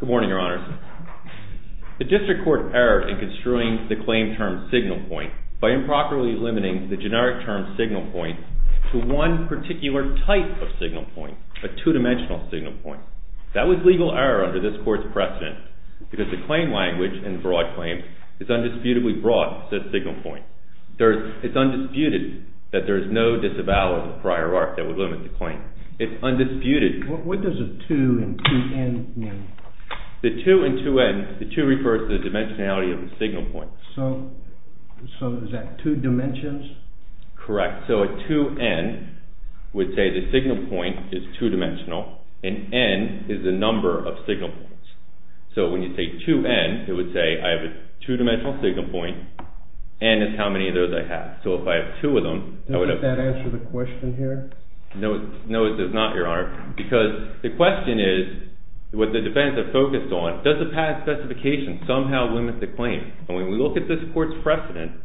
Good morning, Your Honors. The District Court erred in construing the claim term signal point by improperly limiting the generic term signal point to one particular type of signal point, a two-dimensional signal point. That was legal error under this Court's precedent because the claim language in broad claims is undisputably broad, says signal point. It's undisputed that there is no disavowal of the prior art that would limit the claim. It's undisputed. What does a 2 and 2n mean? The 2 and 2n, the 2 refers to the dimensionality of the signal point. So is that two dimensions? Correct. So a 2n would say the signal point is two-dimensional, and n is the number of signal points. So when you say 2n, it would say I have a two-dimensional signal point, n is how many of those I have. So if I have two of them, I would have... Does that answer the question here? No, it does not, Your Honor, because the question is, what the defendants are focused on, does the patent specification somehow limit the claim? And when we look at this Court's precedent,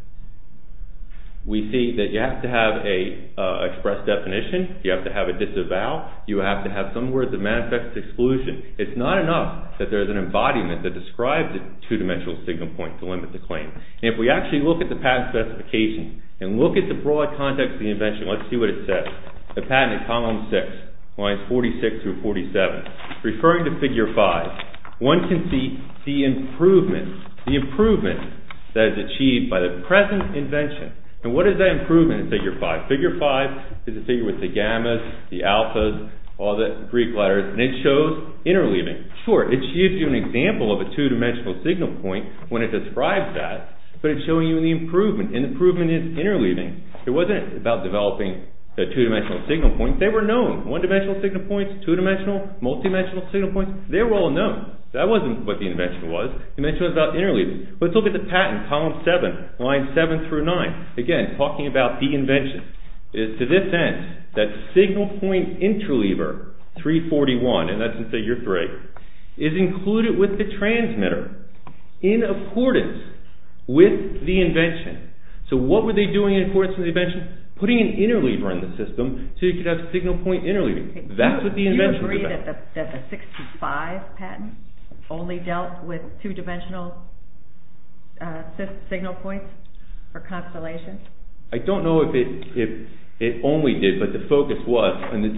we see that you have to have an express definition, you have to have a disavow, you have to have some words of manifest exclusion. It's not enough that there's an embodiment that describes a two-dimensional signal point to limit the claim. If we actually look at the patent specification and look at the broad context of the invention, let's see what it says. The patent in column 6, lines 46 through 47. Referring to figure 5, one can see the improvement, the improvement that is achieved by the present invention. And what is that improvement in figure 5? Figure 5 is the figure with the gammas, the alphas, all the Greek letters, and it shows interleaving. Sure, it gives you an example of a two-dimensional signal point when it describes that, but it's showing you the improvement, and the improvement is interleaving. It wasn't about developing a two-dimensional signal point. They were known, one-dimensional signal points, two-dimensional, multi-dimensional signal points. They were all known. That wasn't what the invention was. It was about interleaving. Let's look at the patent, column 7, lines 7 through 9. Again, talking about the invention. It's to this end that signal point interleaver 341, and that's in figure 3, is included with the transmitter in accordance with the invention. So what were they doing in accordance with the invention? Putting an interleaver in the system so you could have signal point interleaving. That's what the invention was about. Is it true that the 625 patent only dealt with two-dimensional signal points or constellations? I don't know if it only did, but the focus was in the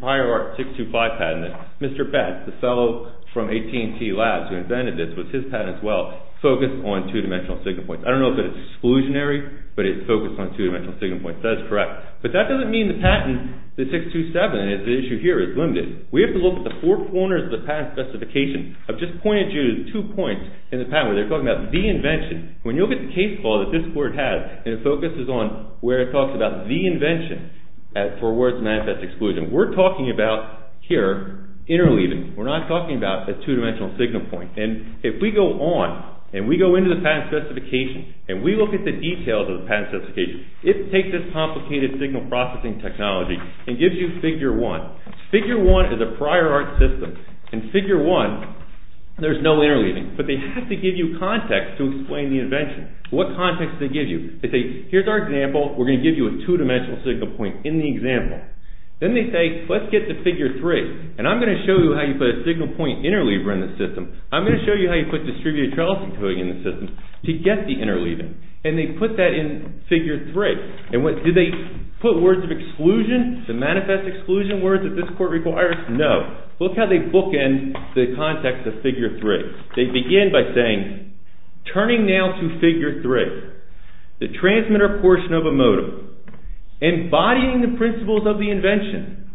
prior 625 patent that Mr. Betz, the fellow from AT&T Labs who invented this, with his patent as well, focused on two-dimensional signal points. I don't know if it's exclusionary, but it focused on two-dimensional signal points. That is correct. But that doesn't mean the patent, the 627, the issue here is limited. We have to look at the four corners of the patent specification. I've just pointed you to two points in the patent where they're talking about the invention. When you look at the case law that this court has, and it focuses on where it talks about the invention for where it's manifest exclusion. We're talking about, here, interleaving. We're not talking about a two-dimensional signal point. And if we go on, and we go into the patent specification, and we look at the details of the patent specification, it takes this complicated signal processing technology and gives you figure 1. Figure 1 is a prior art system. In figure 1, there's no interleaving. But they have to give you context to explain the invention. What context do they give you? They say, here's our example. We're going to give you a two-dimensional signal point in the example. Then they say, let's get to figure 3. And I'm going to show you how you put a signal point interleaver in the system. I'm going to show you how you put distributed trellis encoding in the system to get the interleaving. And they put that in figure 3. And did they put words of exclusion, the manifest exclusion words that this court requires? No. Look how they bookend the context of figure 3. They begin by saying, turning now to figure 3, the transmitter portion of a modem, embodying the principles of the invention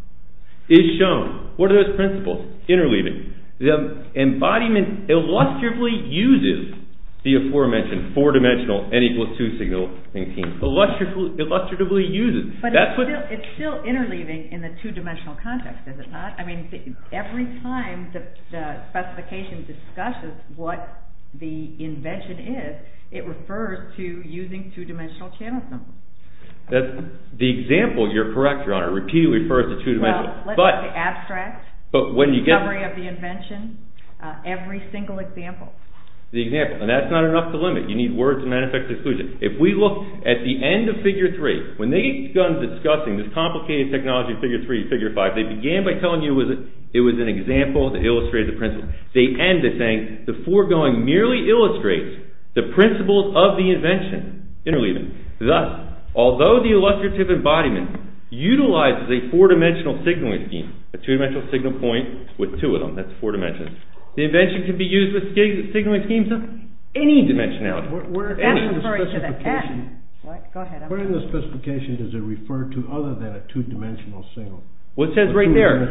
is shown. What are those principles? Interleaving. The embodiment illustratively uses the aforementioned four-dimensional N equals 2 signal. Illustratively uses. But it's still interleaving in the two-dimensional context, is it not? I mean, every time the specification discusses what the invention is, it refers to using two-dimensional channel symbols. The example, you're correct, Your Honor. It repeatedly refers to two-dimensional. Well, let's look at the abstract. But when you get... Discovery of the invention. Every single example. The example. And that's not enough to limit. You need words of manifest exclusion. If we look at the end of figure 3, when they begun discussing this complicated technology of figure 3 and figure 5, they began by telling you it was an example that illustrated the principle. They end by saying the foregoing merely illustrates the principles of the invention. Interleaving. Thus, although the illustrative embodiment utilizes a four-dimensional signaling scheme, a two-dimensional signal point with two of them, that's four dimensions, the invention can be used with signaling schemes of any dimensionality. Where in the specification does it refer to other than a two-dimensional signal? What it says right there.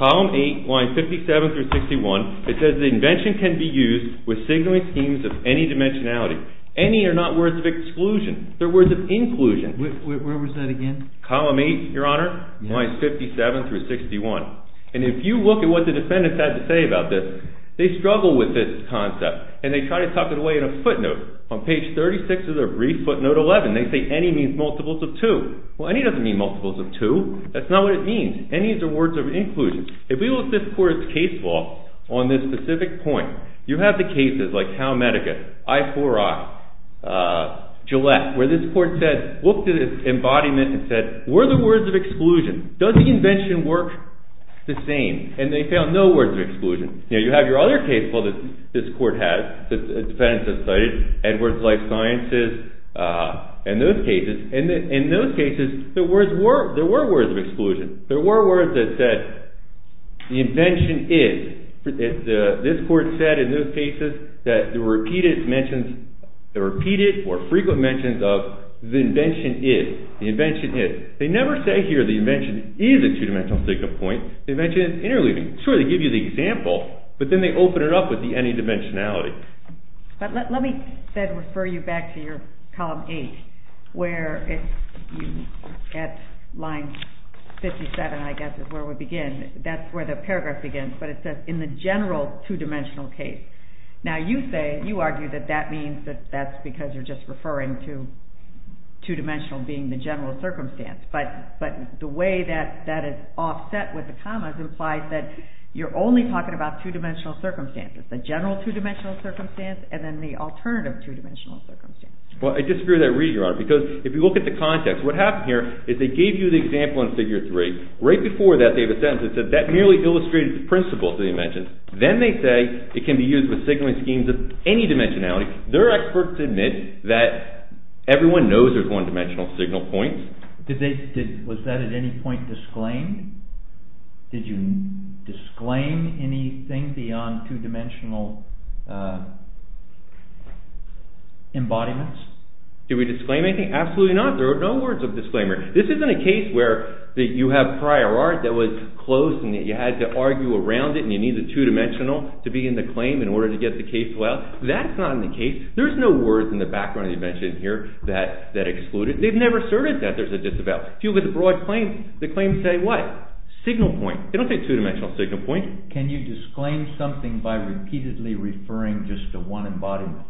Column 8, lines 57 through 61. It says the invention can be used with signaling schemes of any dimensionality. Any are not words of exclusion. They're words of inclusion. Where was that again? Column 8, Your Honor, lines 57 through 61. And if you look at what the defendants had to say about this, they struggle with this concept. And they try to tuck it away in a footnote. On page 36 of their brief footnote 11, they say any means multiples of two. Well, any doesn't mean multiples of two. That's not what it means. Any is the words of inclusion. If we look at this court's case law on this specific point, you have the cases like Calmedica, I4I, Gillette, where this court said, looked at its embodiment and said, were the words of exclusion. Does the invention work the same? And they found no words of exclusion. Now, you have your other case law that this court has, defendants have cited, Edwards Life Sciences, and those cases. In those cases, there were words of exclusion. There were words that said the invention is. This court said in those cases that the repeated mentions, the repeated or frequent mentions of the invention is. The invention is. They never say here the invention is a two-dimensional signal point. The invention is interleaving. Sure, they give you the example, but then they open it up with the any dimensionality. Let me refer you back to your column 8, where at line 57, I guess, is where we begin. That's where the paragraph begins, but it says in the general two-dimensional case. Now, you say, you argue that that means that that's because you're just referring to two-dimensional being the general circumstance, but the way that that is offset with the commas implies that you're only talking about two-dimensional circumstances, the general two-dimensional circumstance, and then the alternative two-dimensional circumstance. Well, I disagree with that reading, Your Honor, because if you look at the context, what happened here is they gave you the example in figure 3. Right before that, they have a sentence that said that merely illustrated the principle of the invention. Then they say it can be used with signaling schemes of any dimensionality. Their experts admit that everyone knows there's one-dimensional signal points. Was that at any point disclaimed? Did you disclaim anything beyond two-dimensional embodiments? Did we disclaim anything? Absolutely not. There are no words of disclaimer. This isn't a case where you have prior art that was closed and you had to argue around it and you need the two-dimensional to be in the claim in order to get the case filed. That's not in the case. There's no words in the background of the invention here that exclude it. They've never asserted that there's a disavowal. But if you look at the broad claims, the claims say what? Signal point. They don't say two-dimensional signal point. Can you disclaim something by repeatedly referring just to one embodiment?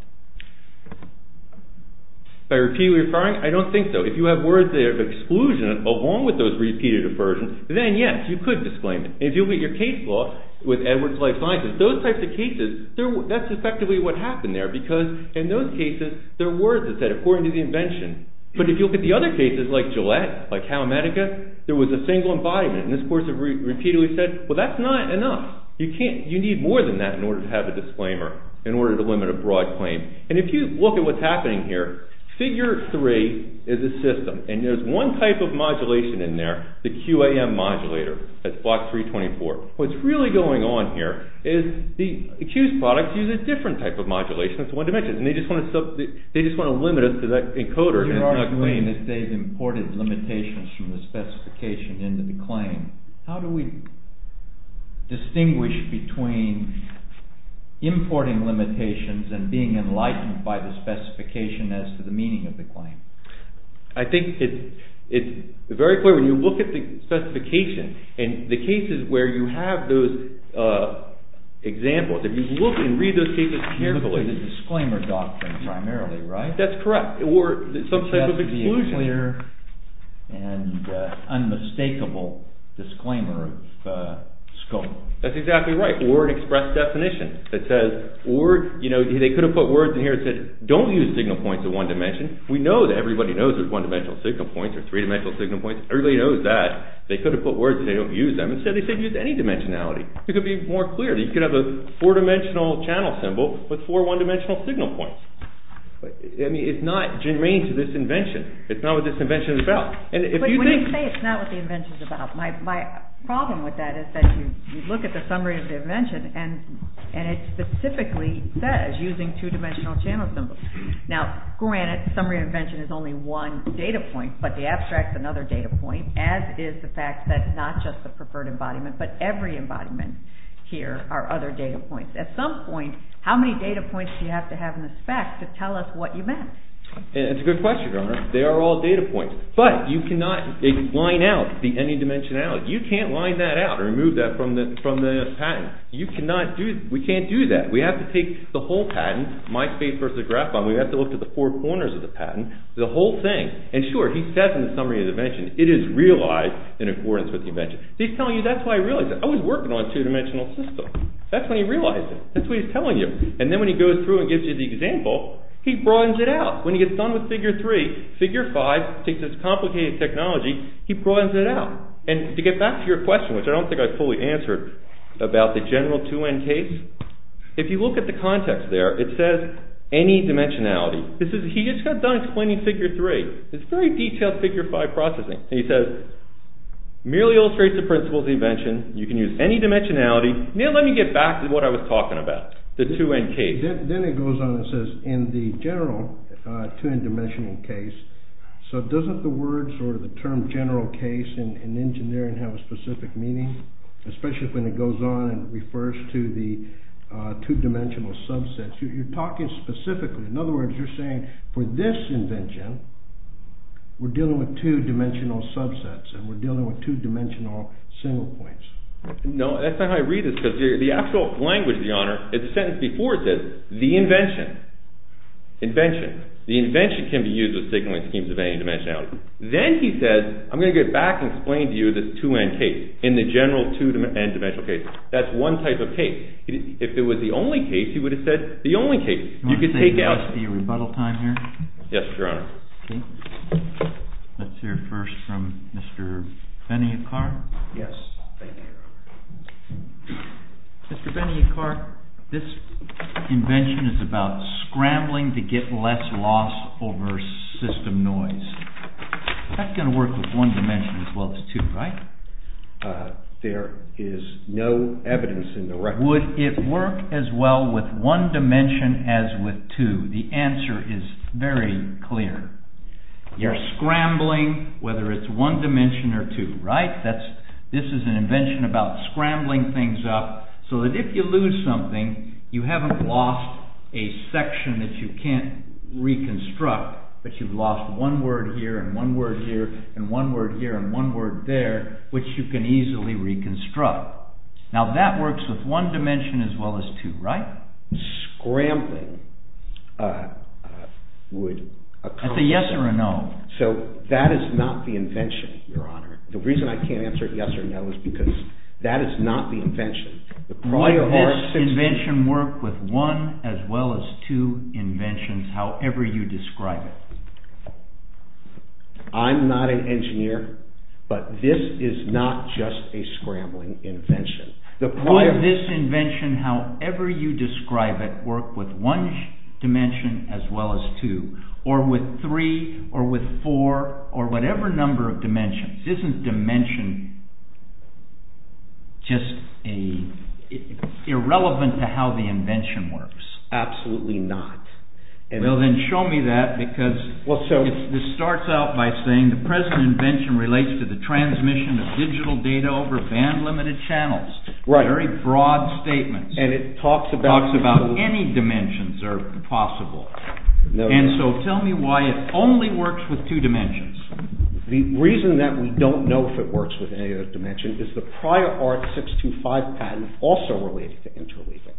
By repeatedly referring? I don't think so. If you have words that have exclusion along with those repeated aversion, then yes, you could disclaim it. If you look at your case law with Edwards Life Sciences, those types of cases, that's effectively what happened there because in those cases, there are words that said according to the invention. But if you look at the other cases like Gillette, like Halimedica, there was a single embodiment and this person repeatedly said, well, that's not enough. You need more than that in order to have a disclaimer, in order to limit a broad claim. And if you look at what's happening here, figure three is a system and there's one type of modulation in there, the QAM modulator. That's block 324. What's really going on here is the accused product uses a different type of modulation. It's one dimension. They just want to limit us to that encoder. You're arguing that they've imported limitations from the specification into the claim. How do we distinguish between importing limitations and being enlightened by the specification as to the meaning of the claim? I think it's very clear when you look at the specification and the cases where you have those examples, if you look and read those cases carefully. It's really the disclaimer doctrine primarily, right? That's correct. Or some type of exclusion. It has to be a clear and unmistakable disclaimer of scope. That's exactly right. Or an express definition that says, or they could have put words in here that said, don't use signal points in one dimension. We know that everybody knows there's one-dimensional signal points or three-dimensional signal points. Everybody knows that. They could have put words and said don't use them. Instead they said use any dimensionality. It could be more clear. You could have a four-dimensional channel symbol with four one-dimensional signal points. It's not germane to this invention. It's not what this invention is about. When you say it's not what the invention is about, my problem with that is that you look at the summary of the invention and it specifically says using two-dimensional channel symbols. Now, granted, the summary of the invention is only one data point, but the abstract is another data point, as is the fact that not just the preferred embodiment, but every embodiment here are other data points. At some point, how many data points do you have to have in the spec to tell us what you meant? It's a good question, Your Honor. They are all data points. But you cannot line out the any dimensionality. You can't line that out or remove that from the patent. You cannot do that. We can't do that. We have to take the whole patent, MySpace versus Graphon. We have to look at the four corners of the patent, the whole thing. And sure, he says in the summary of the invention, it is realized in accordance with the invention. He is telling you that's why he realized it. I was working on a two-dimensional system. That's when he realized it. That's what he is telling you. And then when he goes through and gives you the example, he broadens it out. When he gets done with Figure 3, Figure 5 takes this complicated technology, he broadens it out. And to get back to your question, which I don't think I fully answered about the general 2N case, if you look at the context there, it says any dimensionality. He just got done explaining Figure 3. It's very detailed Figure 5 processing. He says merely illustrates the principles of the invention. You can use any dimensionality. Neil, let me get back to what I was talking about, the 2N case. Then it goes on and says in the general 2N dimensional case, so doesn't the word or the term general case in engineering have a specific meaning, especially when it goes on and refers to the two-dimensional subsets? You're talking specifically. In other words, you're saying for this invention, we're dealing with two-dimensional subsets and we're dealing with two-dimensional single points. No, that's not how I read this, because the actual language, Your Honor, it's a sentence before it says the invention. Invention. The invention can be used with signaling schemes of any dimensionality. Then he says, I'm going to get back and explain to you this 2N case in the general 2N dimensional case. That's one type of case. If it was the only case, he would have said the only case. You could take out. Do you want to say there must be a rebuttal time here? Yes, Your Honor. Okay. Let's hear first from Mr. Benioff-Carr. Yes, thank you, Your Honor. Mr. Benioff-Carr, this invention is about scrambling to get less loss over system noise. That's going to work with one dimension as well as two, right? There is no evidence in the record. Would it work as well with one dimension as with two? The answer is very clear. You're scrambling whether it's one dimension or two, right? This is an invention about scrambling things up so that if you lose something, you haven't lost a section that you can't reconstruct but you've lost one word here and one word here and one word here and one word there which you can easily reconstruct. Now that works with one dimension as well as two, right? Scrambling would occur... It's a yes or a no. So that is not the invention, Your Honor. The reason I can't answer yes or no is because that is not the invention. Would this invention work with one as well as two inventions however you describe it? I'm not an engineer, but this is not just a scrambling invention. Would this invention, however you describe it, work with one dimension as well as two or with three or with four or whatever number of dimensions? Isn't dimension just irrelevant to how the invention works? Absolutely not. Well, then show me that because this starts out by saying the present invention relates to the transmission of digital data over band-limited channels. Very broad statements. And it talks about any dimensions are possible. And so tell me why it only works with two dimensions. The reason that we don't know if it works with any other dimension is the prior art 625 patent also related to interleaving.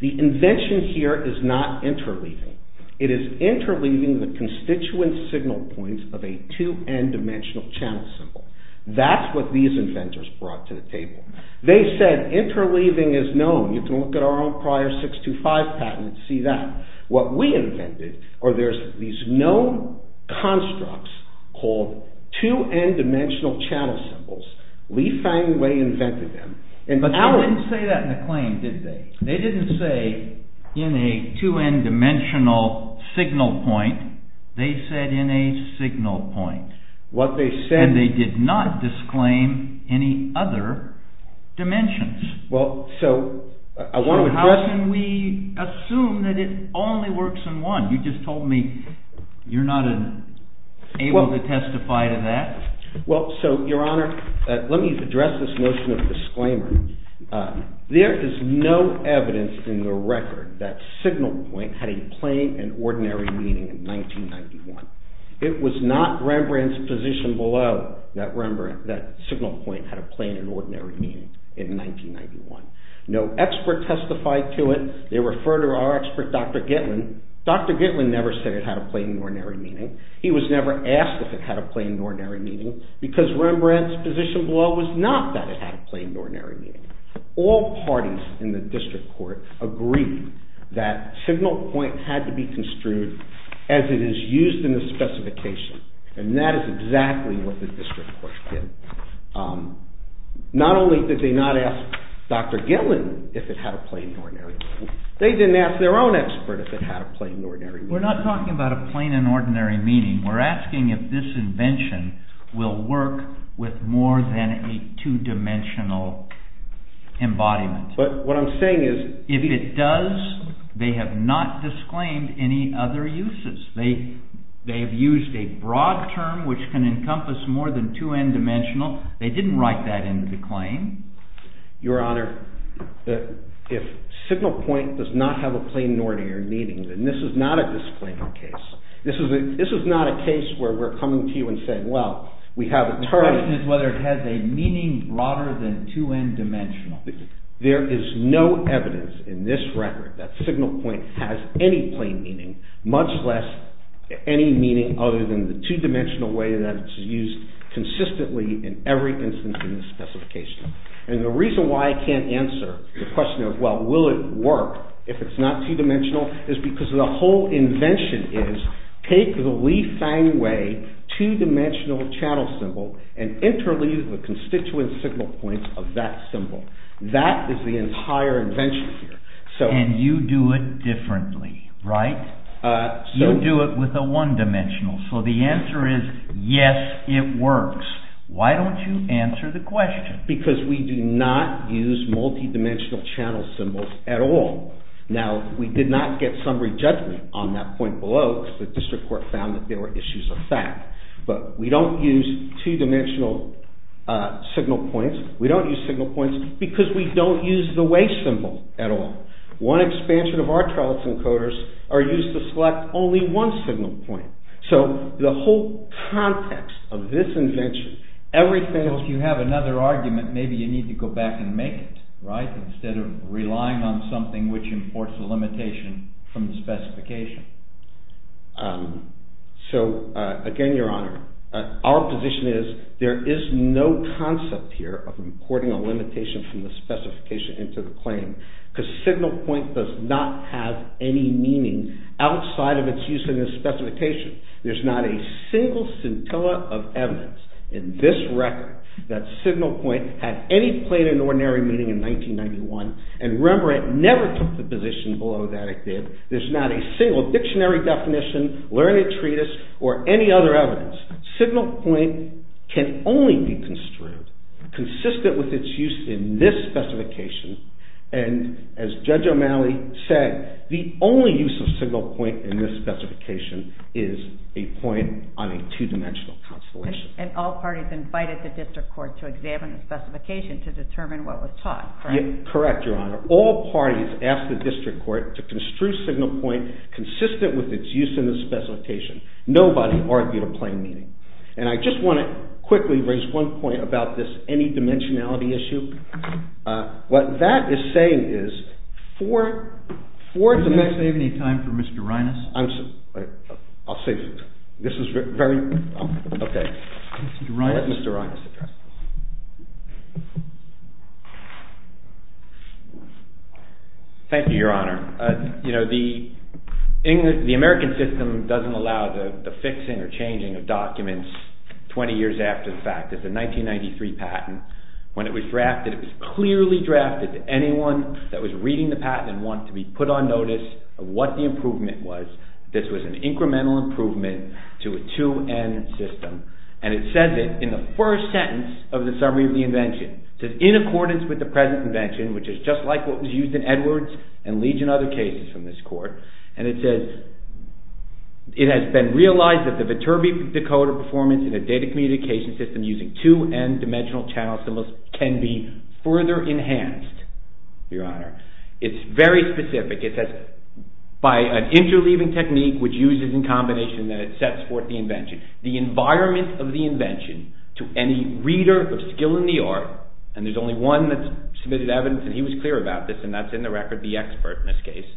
The invention here is not interleaving. It is interleaving the constituent signal points of a 2N dimensional channel symbol. That's what these inventors brought to the table. They said interleaving is known. You can look at our own prior 625 patent and see that. What we invented are these known constructs called 2N dimensional channel symbols. Lee Fang Wei invented them. But they didn't say that in the claim, did they? They didn't say in a 2N dimensional signal point. They said in a signal point. And they did not disclaim any other dimensions. So how can we assume that it only works in one? You just told me you're not able to testify to that. Well, so, Your Honor, let me address this notion of disclaimer. There is no evidence in the record that signal point had a plain and ordinary meaning in 1991. It was not Rembrandt's position below that signal point had a plain and ordinary meaning in 1991. No expert testified to it. They refer to our expert, Dr. Gitlin. Dr. Gitlin never said it had a plain and ordinary meaning. He was never asked if it had a plain and ordinary meaning because Rembrandt's position below was not that it had a plain and ordinary meaning. All parties in the district court agreed that signal point had to be construed as it is used in the specification. And that is exactly what the district court did. Not only did they not ask Dr. Gitlin if it had a plain and ordinary meaning, they didn't ask their own expert if it had a plain and ordinary meaning. We're not talking about a plain and ordinary meaning. We're asking if this invention will work with more than a 2-dimensional embodiment. But what I'm saying is... If it does, they have not disclaimed any other uses. They have used a broad term which can encompass more than 2N-dimensional. They didn't write that into the claim. Your Honor, if signal point does not have a plain and ordinary meaning, then this is not a disclaimer case. This is not a case where we're coming to you and saying, well, we have a term... The question is whether it has a meaning broader than 2N-dimensional. There is no evidence in this record that signal point has any plain meaning, much less any meaning other than the 2-dimensional way that is used consistently in every instance in this specification. And the reason why I can't answer the question of, well, will it work if it's not 2-dimensional, is because the whole invention is, take the Lee-Fang Way 2-dimensional channel symbol and interleave the constituent signal points of that symbol. That is the entire invention here. And you do it differently, right? You do it with a 1-dimensional. So the answer is, yes, it works. Why don't you answer the question? Because we do not use multi-dimensional channel symbols at all. Now, we did not get summary judgment on that point below because the district court found that there were issues of fact. But we don't use 2-dimensional signal points. We don't use signal points because we don't use the way symbol at all. One expansion of our trellis encoders are used to select only one signal point. So the whole context of this invention, everything else... Well, if you have another argument, maybe you need to go back and make it, right? Instead of relying on something which imports a limitation from the specification. So, again, Your Honor, our position is there is no concept here of importing a limitation from the specification into the claim because signal point does not have any meaning outside of its use in the specification. There's not a single scintilla of evidence in this record that signal point had any plain and ordinary meaning in 1991. And Rembrandt never took the position below that it did. There's not a single dictionary definition, learned treatise, or any other evidence. Signal point can only be construed consistent with its use in this specification. And as Judge O'Malley said, the only use of signal point in this specification is a point on a 2-dimensional constellation. And all parties invited the district court to examine the specification to determine what was taught, correct? Correct, Your Honor. All parties asked the district court to construe signal point consistent with its use in the specification. Nobody argued a plain meaning. And I just want to quickly raise one point about this any-dimensionality issue. What that is saying is for... Can you save me time for Mr. Rinas? I'm sorry. I'll save you time. This is very... Okay. Mr. Rinas. Let Mr. Rinas address this. Thank you, Your Honor. You know, the American system doesn't allow the fixing or changing of documents 20 years after the fact. It's a 1993 patent. When it was drafted, it was clearly drafted that anyone that was reading the patent and wanted to be put on notice of what the improvement was. This was an incremental improvement to a 2N system. And it says it in the first sentence of the summary of the invention. It says in accordance with the present invention, which is just like what was used in Edwards and legion other cases from this court. And it says it has been realized that the Viterbi decoder performance in a data communication system using 2N dimensional channels can be further enhanced, Your Honor. It's very specific. It says by an interleaving technique which uses in combination that it sets forth the invention. The environment of the invention to any reader of skill in the art and there's only one that submitted evidence and he was clear about this and that's in the record, the expert in this case.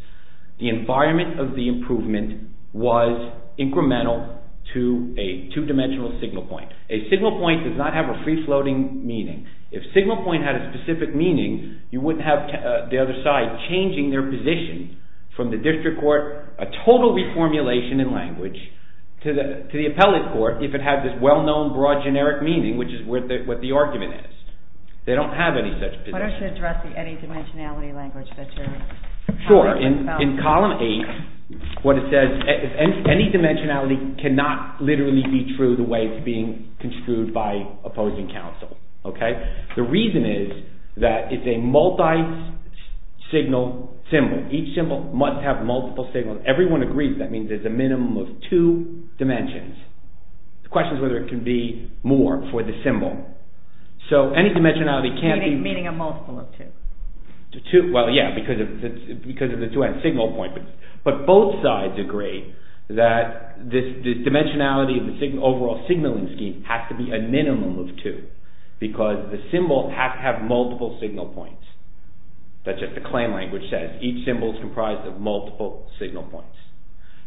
The environment of the improvement was incremental to a two-dimensional signal point. A signal point does not have a free-floating meaning. If signal point had a specific meaning, you wouldn't have the other side changing their position from the district court, a total reformulation in language to the appellate court if it had this well-known broad generic meaning, which is what the argument is. They don't have any such position. Why don't you address the any dimensionality language that you're talking about? Sure. In column 8, what it says, any dimensionality cannot literally be true the way it's being construed by opposing counsel. The reason is that it's a multi-signal symbol. Each symbol must have multiple signals. Everyone agrees that means there's a minimum of two dimensions. The question is whether it can be more for the symbol. So any dimensionality can't be... Meaning a multiple of two. Well, yeah, because of the two-end signal point. But both sides agree that this dimensionality of the overall signaling scheme has to be a minimum of two because the symbol has to have multiple signal points. That's just the claim language says. Each symbol is comprised of multiple signal points.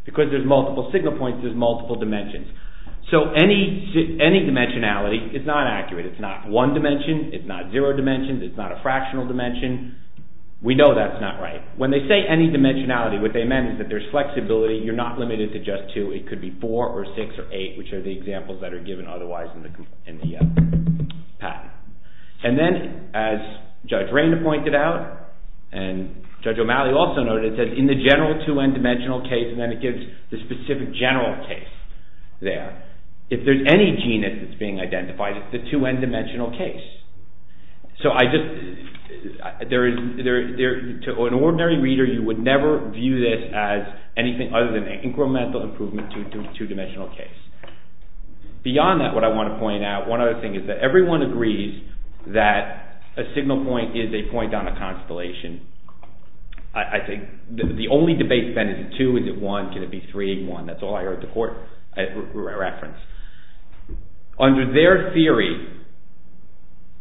Because there's multiple signal points, there's multiple dimensions. So any dimensionality is not accurate. It's not one dimension. It's not zero dimensions. It's not a fractional dimension. We know that's not right. When they say any dimensionality, what they mean is that there's flexibility. You're not limited to just two. It could be four or six or eight, which are the examples that are given otherwise in the patent. And then, as Judge Raina pointed out, and Judge O'Malley also noted, it says in the general two-end dimensional case, and then it gives the specific general case there. If there's any genus that's being identified, it's the two-end dimensional case. So I just... To an ordinary reader, you would never view this as anything other than an incremental improvement to a two-dimensional case. Beyond that, what I want to point out, one other thing, is that everyone agrees that a signal point is a point on a constellation. I think the only debate then is two, is it one, can it be three, one. That's all I heard the court reference. Under their theory,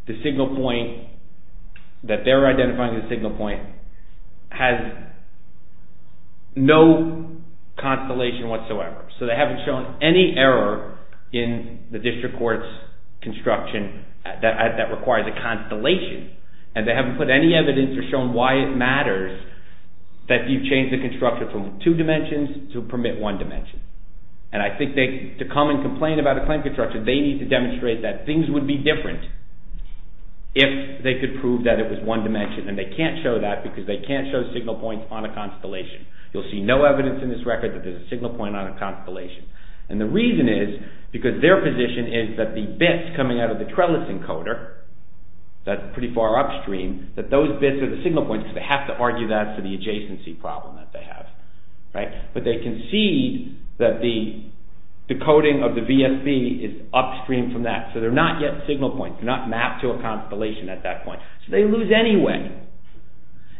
the signal point, that they're identifying the signal point, has no constellation whatsoever. So they haven't shown any error in the district court's construction that requires a constellation. And they haven't put any evidence or shown why it matters that you change the construction from two dimensions to permit one dimension. And I think to come and complain about a claim construction, they need to demonstrate that things would be different if they could prove that it was one dimension. And they can't show that because they can't show signal points on a constellation. You'll see no evidence in this record that there's a signal point on a constellation. And the reason is because their position is that the bits coming out of the trellis encoder, that's pretty far upstream, that those bits are the signal points because they have to argue that for the adjacency problem that they have. But they can see that the decoding of the VSB is upstream from that. So they're not yet signal points. They're not mapped to a constellation at that point. So they lose anyway.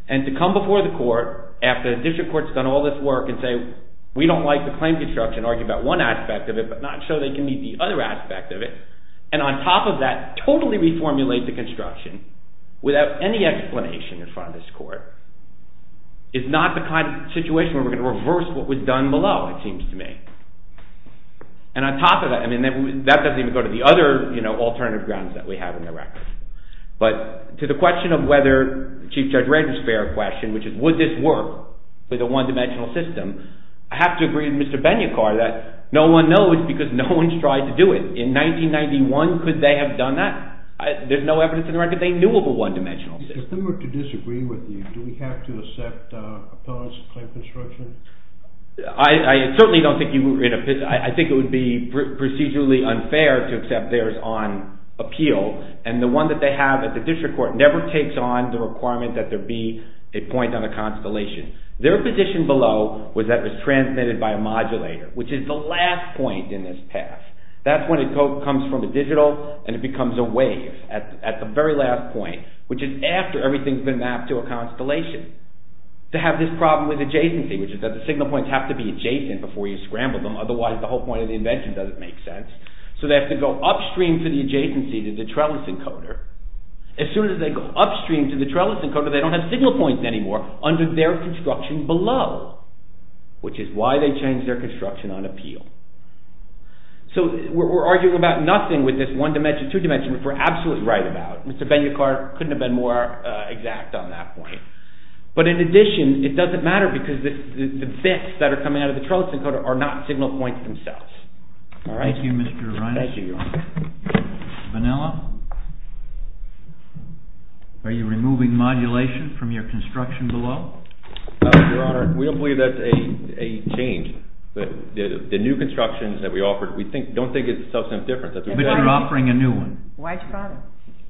And to come before the court after the district court's done all this work and say we don't like the claim construction, argue about one aspect of it, but not show they can meet the other aspect of it, and on top of that totally reformulate the construction without any explanation in front of this court, is not the kind of situation where we're going to reverse what was done below, it seems to me. And on top of that, that doesn't even go to the other alternative grounds that we have in the record. But to the question of whether Chief Judge Randall's fair question, which is would this work with a one-dimensional system, I have to agree with Mr. Ben-Yakar that no one knows because no one's tried to do it. In 1991, could they have done that? There's no evidence in the record they knew of a one-dimensional system. If they were to disagree with you, do we have to accept a clause in claim construction? I certainly don't think you would. I think it would be procedurally unfair to accept theirs on appeal. And the one that they have at the district court never takes on the requirement that there be a point on a constellation. Their position below was that it was transmitted by a modulator, which is the last point in this path. That's when it comes from a digital and it becomes a wave at the very last point, which is after everything's been mapped to a constellation. To have this problem with adjacency, which is that the signal points have to be adjacent before you scramble them, otherwise the whole point of the invention doesn't make sense. So they have to go upstream to the adjacency to the trellis encoder. As soon as they go upstream to the trellis encoder, they don't have signal points anymore under their construction below, which is why they changed their construction on appeal. So we're arguing about nothing with this one dimension, two dimension, which we're absolutely right about. Mr. Ben-Yakar couldn't have been more exact on that point. But in addition, it doesn't matter, because the bits that are coming out of the trellis encoder are not signal points themselves. Thank you, Mr. Reines. Vanilla? Are you removing modulation from your construction below? No, Your Honor. We don't believe that's a change. The new constructions that we offered, we don't think it's a substantive difference. We're not offering a new one. Why do you bother?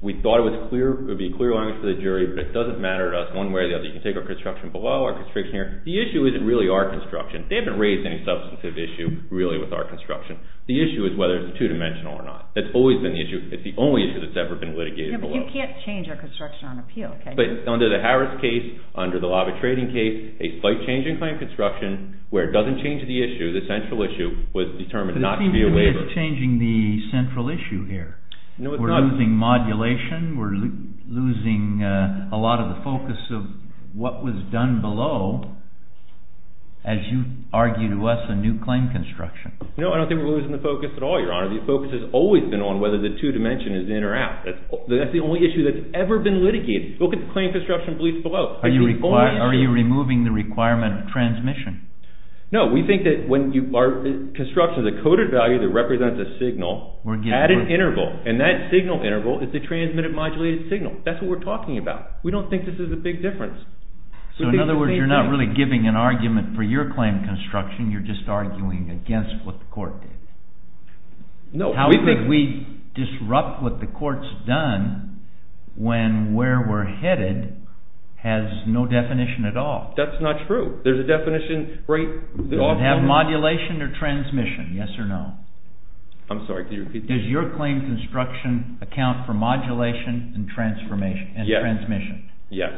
We thought it would be clear language for the jury, but it doesn't matter to us one way or the other. You can take our construction below, our constriction here. The issue isn't really our construction. They haven't raised any substantive issue, really, with our construction. The issue is whether it's two-dimensional or not. That's always been the issue. It's the only issue that's ever been litigated below. But you can't change our construction on appeal, can you? But under the Harris case, under the Lava Trading case, a slight change in claim construction where it doesn't change the issue, the central issue, was determined not to be a waiver. But it seems to me it's changing the central issue here. We're losing modulation. We're losing a lot of the focus of what was done below, as you argue to us, a new claim construction. No, I don't think we're losing the focus at all, Your Honor. The focus has always been on whether the two-dimension is in or out. That's the only issue that's ever been litigated. Look at the claim construction beliefs below. Are you removing the requirement of transmission? No. We think that when you are constructing a coded value that represents a signal at an interval, and that signal interval is the transmitted modulated signal. That's what we're talking about. We don't think this is a big difference. So, in other words, you're not really giving an argument for your claim construction. You're just arguing against what the court did. No. How could we disrupt what the court's done when where we're headed has no definition at all? That's not true. There's a definition right off the top. Does it have modulation or transmission? Yes or no? I'm sorry. Could you repeat that? Does your claim construction account for modulation and transmission? Yes.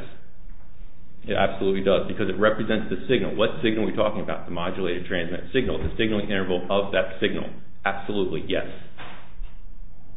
It absolutely does because it represents the signal. What signal are we talking about? The modulated transmitted signal. The signaling interval of that signal. Absolutely. Yes.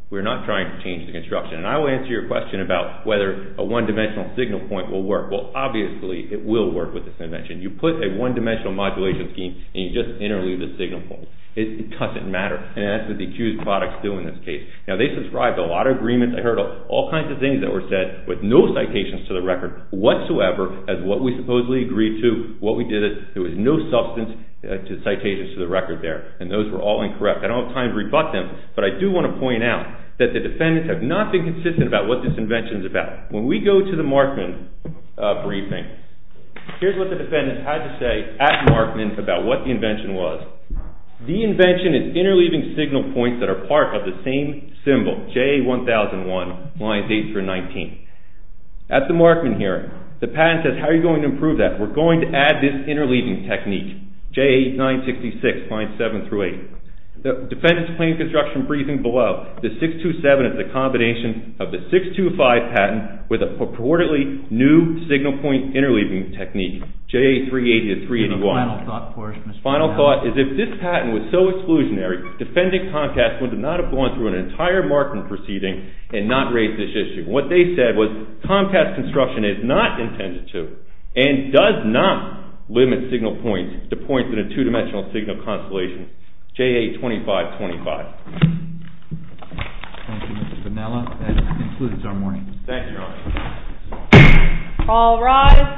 We're not trying to change the construction. And I will answer your question about whether a one-dimensional signal point will work. Well, obviously, it will work with this invention. You put a one-dimensional modulation scheme and you just interleave the signal point. It doesn't matter. And that's what the accused products do in this case. Now, they subscribe to a lot of agreements. I heard all kinds of things that were said with no citations to the record whatsoever as what we supposedly agreed to, what we did. There was no substance to citations to the record there. And those were all incorrect. I don't have time to rebut them. But I do want to point out that the defendants have not been consistent about what this invention is about. When we go to the Markman briefing, here's what the defendants had to say at Markman about what the invention was. The invention is interleaving signal points that are part of the same symbol, JA1001, lines 8 through 19. At the Markman hearing, the patent says, how are you going to improve that? We're going to add this interleaving technique. JA966, lines 7 through 8. The defendants' plain construction briefing below, the 627 is a combination of the 625 patent with a purportedly new signal point interleaving technique, JA380 to 381. Final thought is if this patent was so exclusionary, defendant Comcast would not have gone through an entire Markman proceeding and not raised this issue. What they said was Comcast construction is not intended to and does not limit signal points to points in a two-dimensional signal constellation, JA2525. Thank you, Mr. Vanella. That concludes our morning. Thank you, Your Honor. All rise.